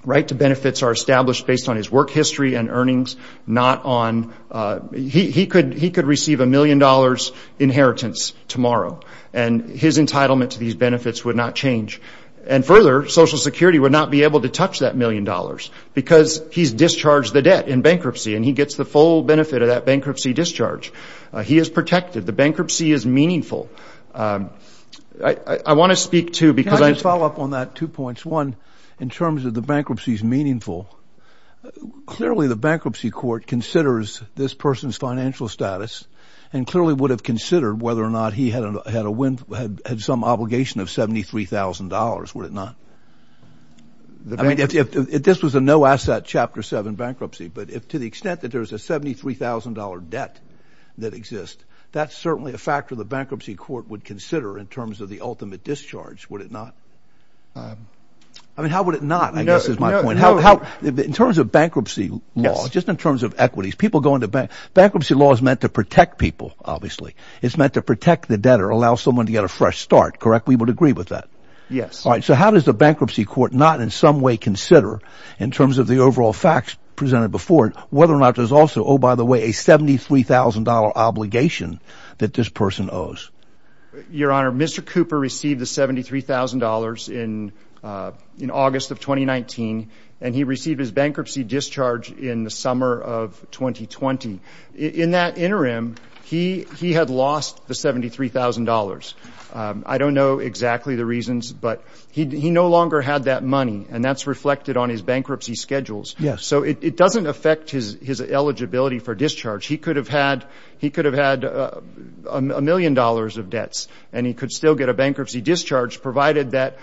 right to benefits are established based on his work history and earnings, not on he could receive a million dollars inheritance tomorrow, and his entitlement to these benefits would not change. And further, Social Security would not be able to touch that million dollars, because he's discharged the debt in bankruptcy, and he gets the full benefit of that bankruptcy discharge. He is protected. The bankruptcy is meaningful. I want to speak to, because I have to follow up on that, two points. One, in terms of the bankruptcy is meaningful, clearly the bankruptcy court considers this person's financial status and clearly would have considered whether or not he had some obligation of $73,000, would it not? I mean, if this was a no-asset Chapter 7 bankruptcy, but if to the extent that there's a $73,000 debt that exists, that's certainly a factor the bankruptcy court would consider in terms of the ultimate discharge, would it not? I mean, how would it not, I guess, is my point. In terms of bankruptcy law, just in terms of equities, people go into bankruptcy. Bankruptcy law is meant to protect people, obviously. It's meant to protect the debtor, allow someone to get a fresh start, correct? We would agree with that. Yes. All right, so how does the bankruptcy court not in some way consider, in terms of the overall facts presented before it, whether or not there's also, oh, by the way, a $73,000 obligation that this person owes? Your Honor, Mr. Cooper received the $73,000 in August of 2019, and he received his bankruptcy discharge in the summer of 2020. In that interim, he had lost the $73,000. I don't know exactly the reasons, but he no longer had that money, and that's reflected on his bankruptcy schedules. Yes. So it doesn't affect his eligibility for discharge. He could have had a million dollars of debts, and he could still get a bankruptcy discharge provided that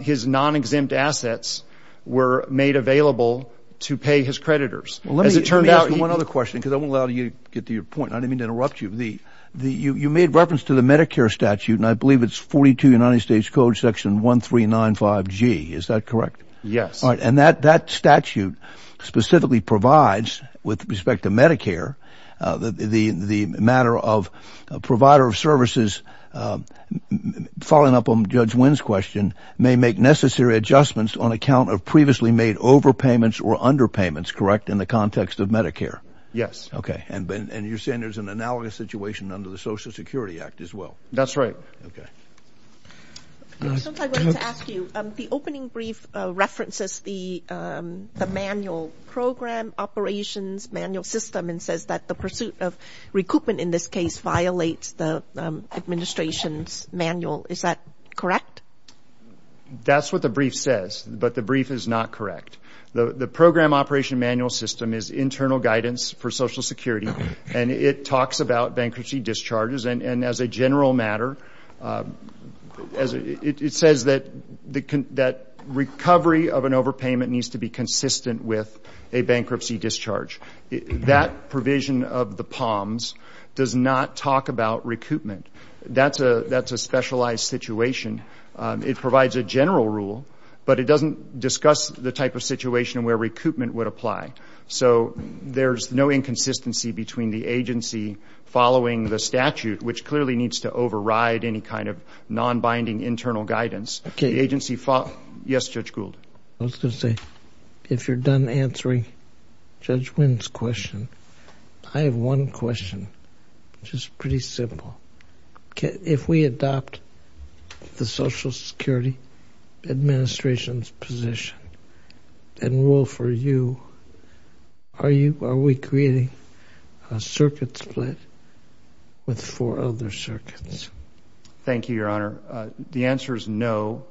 his non-exempt assets were made available to pay his creditors. Let me ask you one other question because I won't allow you to get to your point, and I didn't mean to interrupt you. You made reference to the Medicare statute, and I believe it's 42 United States Code Section 1395G. Is that correct? Yes. All right, and that statute specifically provides, with respect to Medicare, the matter of a provider of services, following up on Judge Wynn's question, may make necessary adjustments on account of previously made overpayments or underpayments, correct, in the context of Medicare? Yes. Okay, and you're saying there's an analogous situation under the Social Security Act as well? That's right. Okay. Since I wanted to ask you, the opening brief references the manual program operations manual system and says that the pursuit of recoupment in this case violates the administration's manual. Is that correct? That's what the brief says, but the brief is not correct. The program operation manual system is internal guidance for Social Security, and it talks about bankruptcy discharges, and as a general matter, it says that recovery of an overpayment needs to be consistent with a bankruptcy discharge. That provision of the POMS does not talk about recoupment. That's a specialized situation. It provides a general rule, but it doesn't discuss the type of situation where recoupment would apply. So there's no inconsistency between the agency following the statute, which clearly needs to override any kind of nonbinding internal guidance. Okay. Yes, Judge Gould. I was going to say, if you're done answering Judge Wynn's question, I have one question, which is pretty simple. If we adopt the Social Security Administration's position and rule for you, are we creating a circuit split with four other circuits? Thank you, Your Honor. The answer is no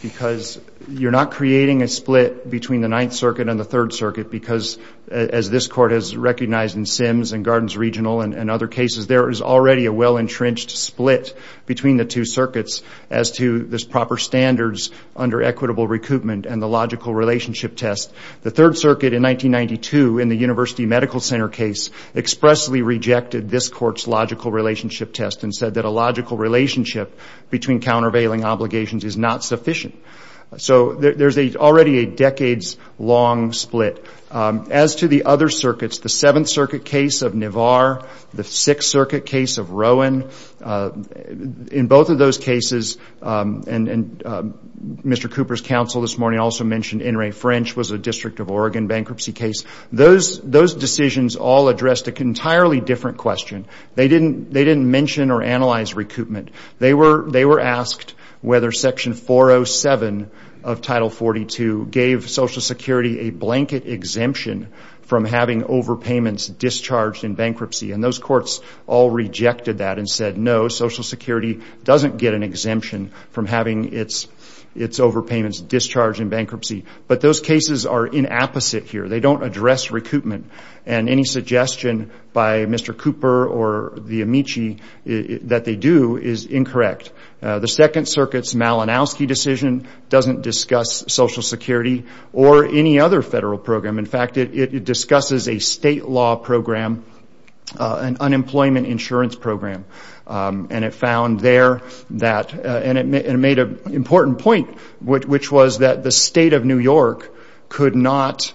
because you're not creating a split between the Ninth Circuit and the Third Circuit because, as this Court has recognized in Sims and Gardens Regional and other cases, there is already a well-entrenched split between the two circuits as to the proper standards under equitable recoupment and the logical relationship test. The Third Circuit in 1992 in the University Medical Center case expressly rejected this Court's logical relationship test and said that a logical relationship between countervailing obligations is not sufficient. So there's already a decades-long split. As to the other circuits, the Seventh Circuit case of Navarre, the Sixth Circuit case of Rowan, in both of those cases, and Mr. Cooper's counsel this morning also mentioned In re French was a District of Oregon bankruptcy case. Those decisions all addressed an entirely different question. They didn't mention or analyze recoupment. They were asked whether Section 407 of Title 42 gave Social Security a blanket exemption from having overpayments discharged in bankruptcy. And those courts all rejected that and said, No, Social Security doesn't get an exemption from having its overpayments discharged in bankruptcy. But those cases are inapposite here. They don't address recoupment. And any suggestion by Mr. Cooper or the Amici that they do is incorrect. The Second Circuit's Malinowski decision doesn't discuss Social Security or any other federal program. In fact, it discusses a state law program, an unemployment insurance program. And it found there that, and it made an important point, which was that the State of New York could not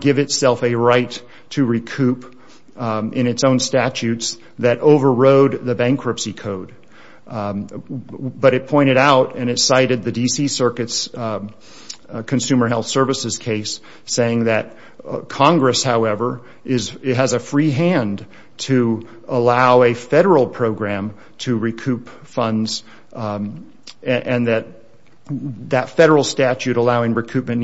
give itself a right to recoup in its own statutes that overrode the bankruptcy code. But it pointed out, and it cited the D.C. Circuit's Consumer Health Services case, saying that Congress, however, has a free hand to allow a federal program to recoup funds and that that federal statute allowing recoupment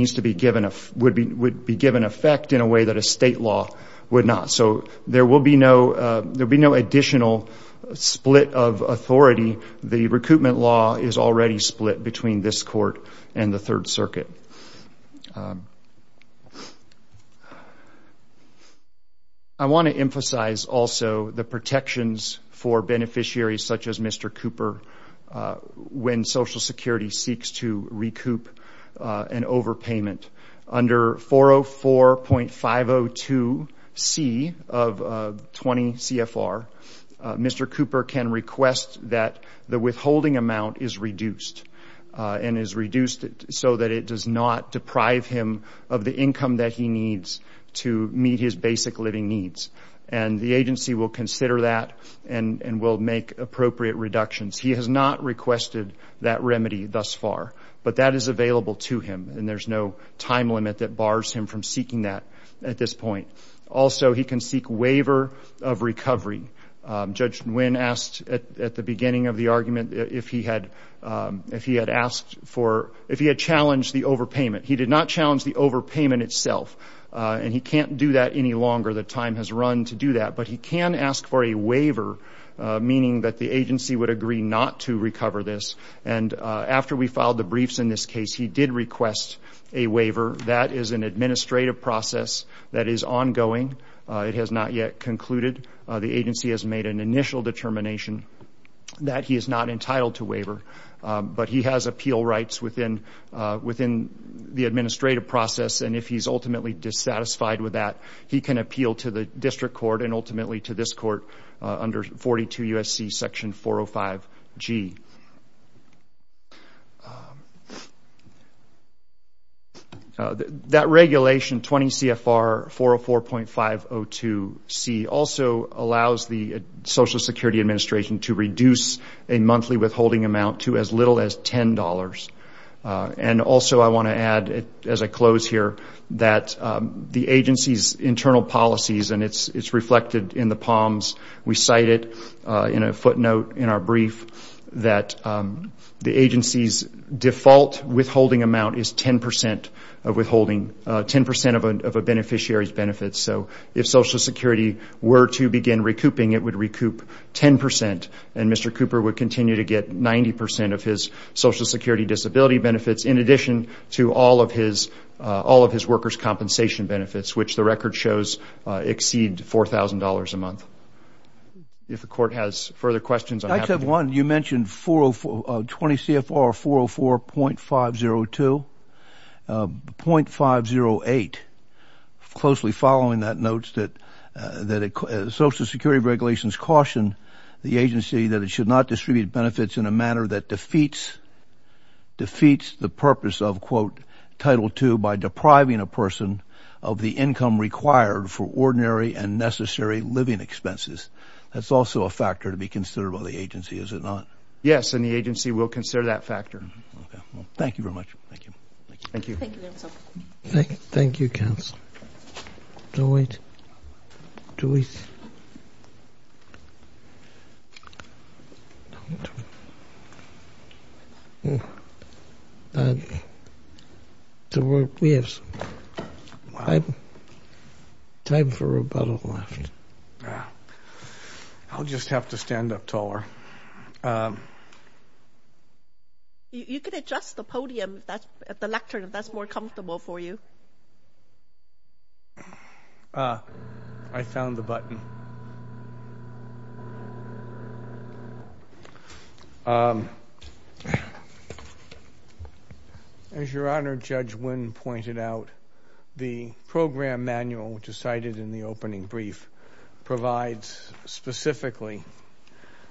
would be given effect in a way that a state law would not. So there will be no additional split of authority. The recoupment law is already split between this court and the Third Circuit. I want to emphasize also the protections for beneficiaries such as Mr. Cooper when Social Security seeks to recoup an overpayment. Under 404.502C of 20 CFR, Mr. Cooper can request that the withholding amount is reduced so that it does not deprive him of the income that he needs to meet his basic living needs. And the agency will consider that and will make appropriate reductions. He has not requested that remedy thus far. But that is available to him, and there's no time limit that bars him from seeking that at this point. Also, he can seek waiver of recovery. Judge Nguyen asked at the beginning of the argument if he had challenged the overpayment. He did not challenge the overpayment itself, and he can't do that any longer. The time has run to do that. But he can ask for a waiver, meaning that the agency would agree not to recover this. And after we filed the briefs in this case, he did request a waiver. That is an administrative process that is ongoing. It has not yet concluded. The agency has made an initial determination that he is not entitled to waiver. But he has appeal rights within the administrative process, and if he's ultimately dissatisfied with that, he can appeal to the district court and ultimately to this court under 42 U.S.C. section 405G. That regulation, 20 CFR 404.502C, also allows the Social Security Administration to reduce a monthly withholding amount to as little as $10. And also I want to add, as I close here, that the agency's internal policies, and it's reflected in the POMs, we cite it in a footnote in our brief, that the agency's default withholding amount is 10% of a beneficiary's benefits. So if Social Security were to begin recouping, it would recoup 10%, and Mr. Cooper would continue to get 90% of his Social Security disability benefits in addition to all of his workers' compensation benefits, which the record shows exceed $4,000 a month. If the court has further questions, I'm happy to... I just have one. You mentioned 20 CFR 404.502. .508, closely following that, notes that Social Security regulations caution the agency that it should not distribute benefits in a manner that defeats the purpose of, quote, Title II by depriving a person of the income required for ordinary and necessary living expenses. That's also a factor to be considered by the agency, is it not? Yes, and the agency will consider that factor. Okay. Well, thank you very much. Thank you. Thank you. Thank you, counsel. Thank you, counsel. Do it. Do it. We have time for rebuttal left. I'll just have to stand up taller. You can adjust the podium, the lectern, if that's more comfortable for you. Ah, I found the button. As Your Honor, Judge Wynn pointed out, the program manual, which is cited in the opening brief, provides specifically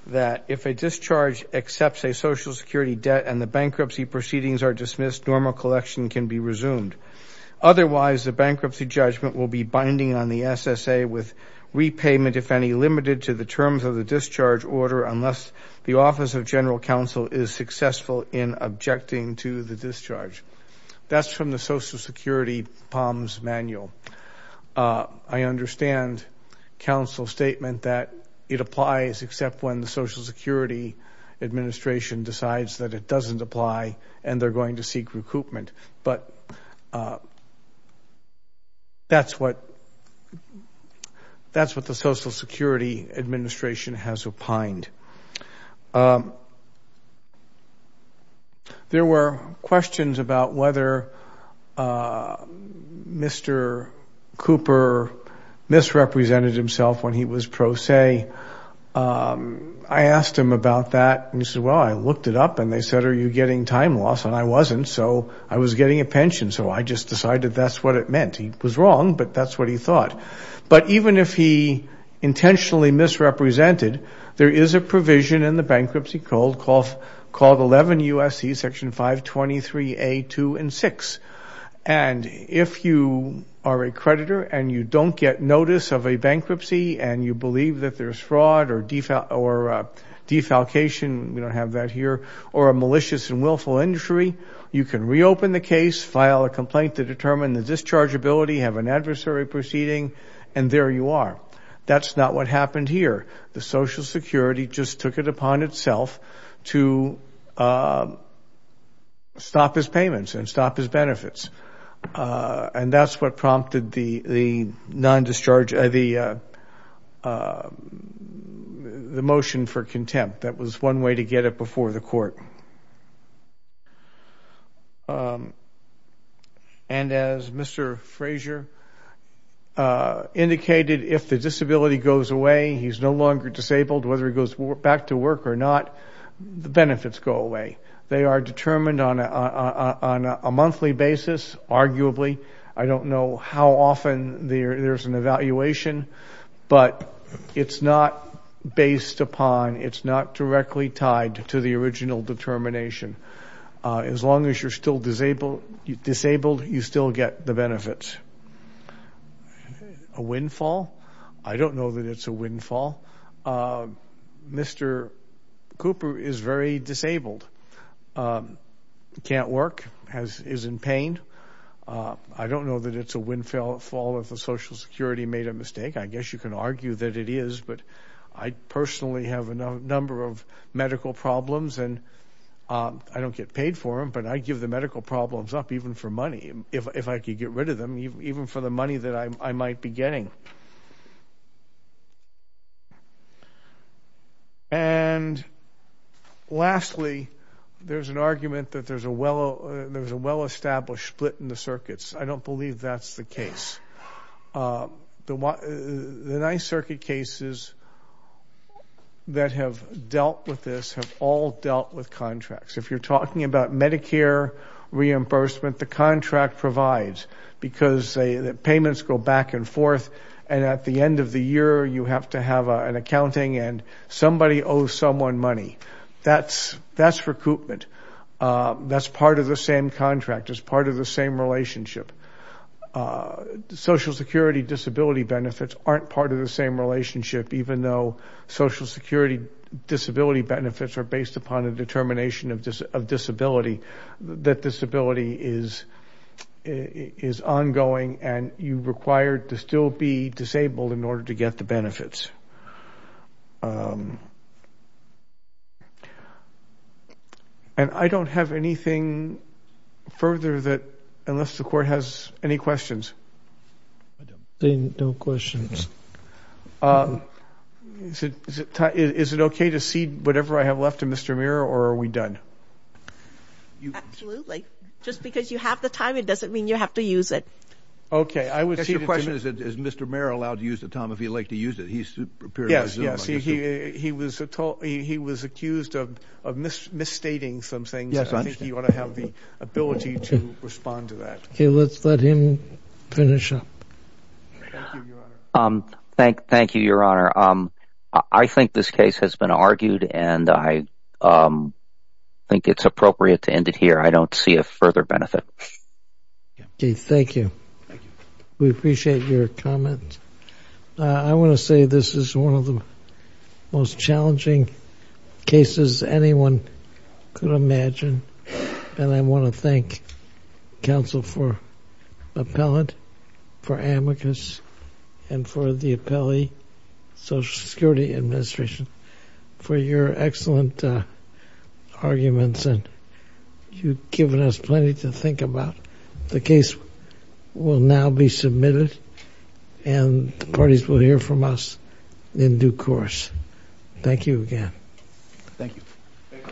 that if a discharge accepts a Social Security debt and the bankruptcy proceedings are dismissed, normal collection can be resumed. Otherwise, the bankruptcy judgment will be binding on the SSA with repayment, if any, limited to the terms of the discharge order unless the Office of General Counsel is successful in objecting to the discharge. That's from the Social Security POMS manual. I understand counsel's statement that it applies except when the Social Security Administration decides that it doesn't apply and they're going to seek recoupment. But that's what the Social Security Administration has opined. There were questions about whether Mr. Cooper misrepresented himself when he was pro se. I asked him about that and he said, well, I looked it up and they said, are you getting time loss? And I wasn't, so I was getting a pension. So I just decided that's what it meant. He was wrong, but that's what he thought. But even if he intentionally misrepresented, there is a provision in the bankruptcy code called 11 U.S.C. Section 523A, 2, and 6. And if you are a creditor and you don't get notice of a bankruptcy and you believe that there's fraud or defalcation, we don't have that here, or a malicious and willful injury, you can reopen the case, file a complaint to determine the dischargeability, have an adversary proceeding, and there you are. That's not what happened here. The Social Security just took it upon itself to stop his payments and stop his benefits. And that's what prompted the motion for contempt. That was one way to get it before the court. And as Mr. Fraser indicated, if the disability goes away, he's no longer disabled, whether he goes back to work or not, the benefits go away. They are determined on a monthly basis, arguably. I don't know how often there's an evaluation, but it's not based upon, it's not directly tied to the original determination. As long as you're still disabled, you still get the benefits. A windfall? I don't know that it's a windfall. Mr. Cooper is very disabled, can't work, is in pain. I don't know that it's a windfall if the Social Security made a mistake. I guess you can argue that it is, but I personally have a number of medical problems, and I don't get paid for them, but I give the medical problems up, even for money, if I could get rid of them, even for the money that I might be getting. And lastly, there's an argument that there's a well-established split in the circuits. I don't believe that's the case. The Ninth Circuit cases that have dealt with this have all dealt with contracts. If you're talking about Medicare reimbursement, the contract provides, because the payments go back and forth, and at the end of the year, you have to have an accounting, and somebody owes someone money. That's recoupment. That's part of the same contract. It's part of the same relationship. Social Security disability benefits aren't part of the same relationship, even though Social Security disability benefits are based upon a determination of disability, that disability is ongoing, and you're required to still be disabled in order to get the benefits. And I don't have anything further, unless the Court has any questions. I don't see no questions. Is it okay to cede whatever I have left to Mr. Muir, or are we done? Absolutely. Just because you have the time, it doesn't mean you have to use it. Okay. I would cede it to him. I guess your question is, is Mr. Muir allowed to use the time if he'd like to use it? Yes, yes. He was accused of misstating some things, and I think he ought to have the ability to respond to that. Okay. Let's let him finish up. Thank you, Your Honor. I think this case has been argued, and I think it's appropriate to end it here. I don't see a further benefit. Okay. Thank you. We appreciate your comment. I want to say this is one of the most challenging cases anyone could imagine, and I want to thank counsel for Appellant, for Amicus, and for the Appellee Social Security Administration for your excellent arguments, and you've given us plenty to think about. The case will now be submitted, and the parties will hear from us in due course. Thank you again. Thank you. Thank you, Your Honor.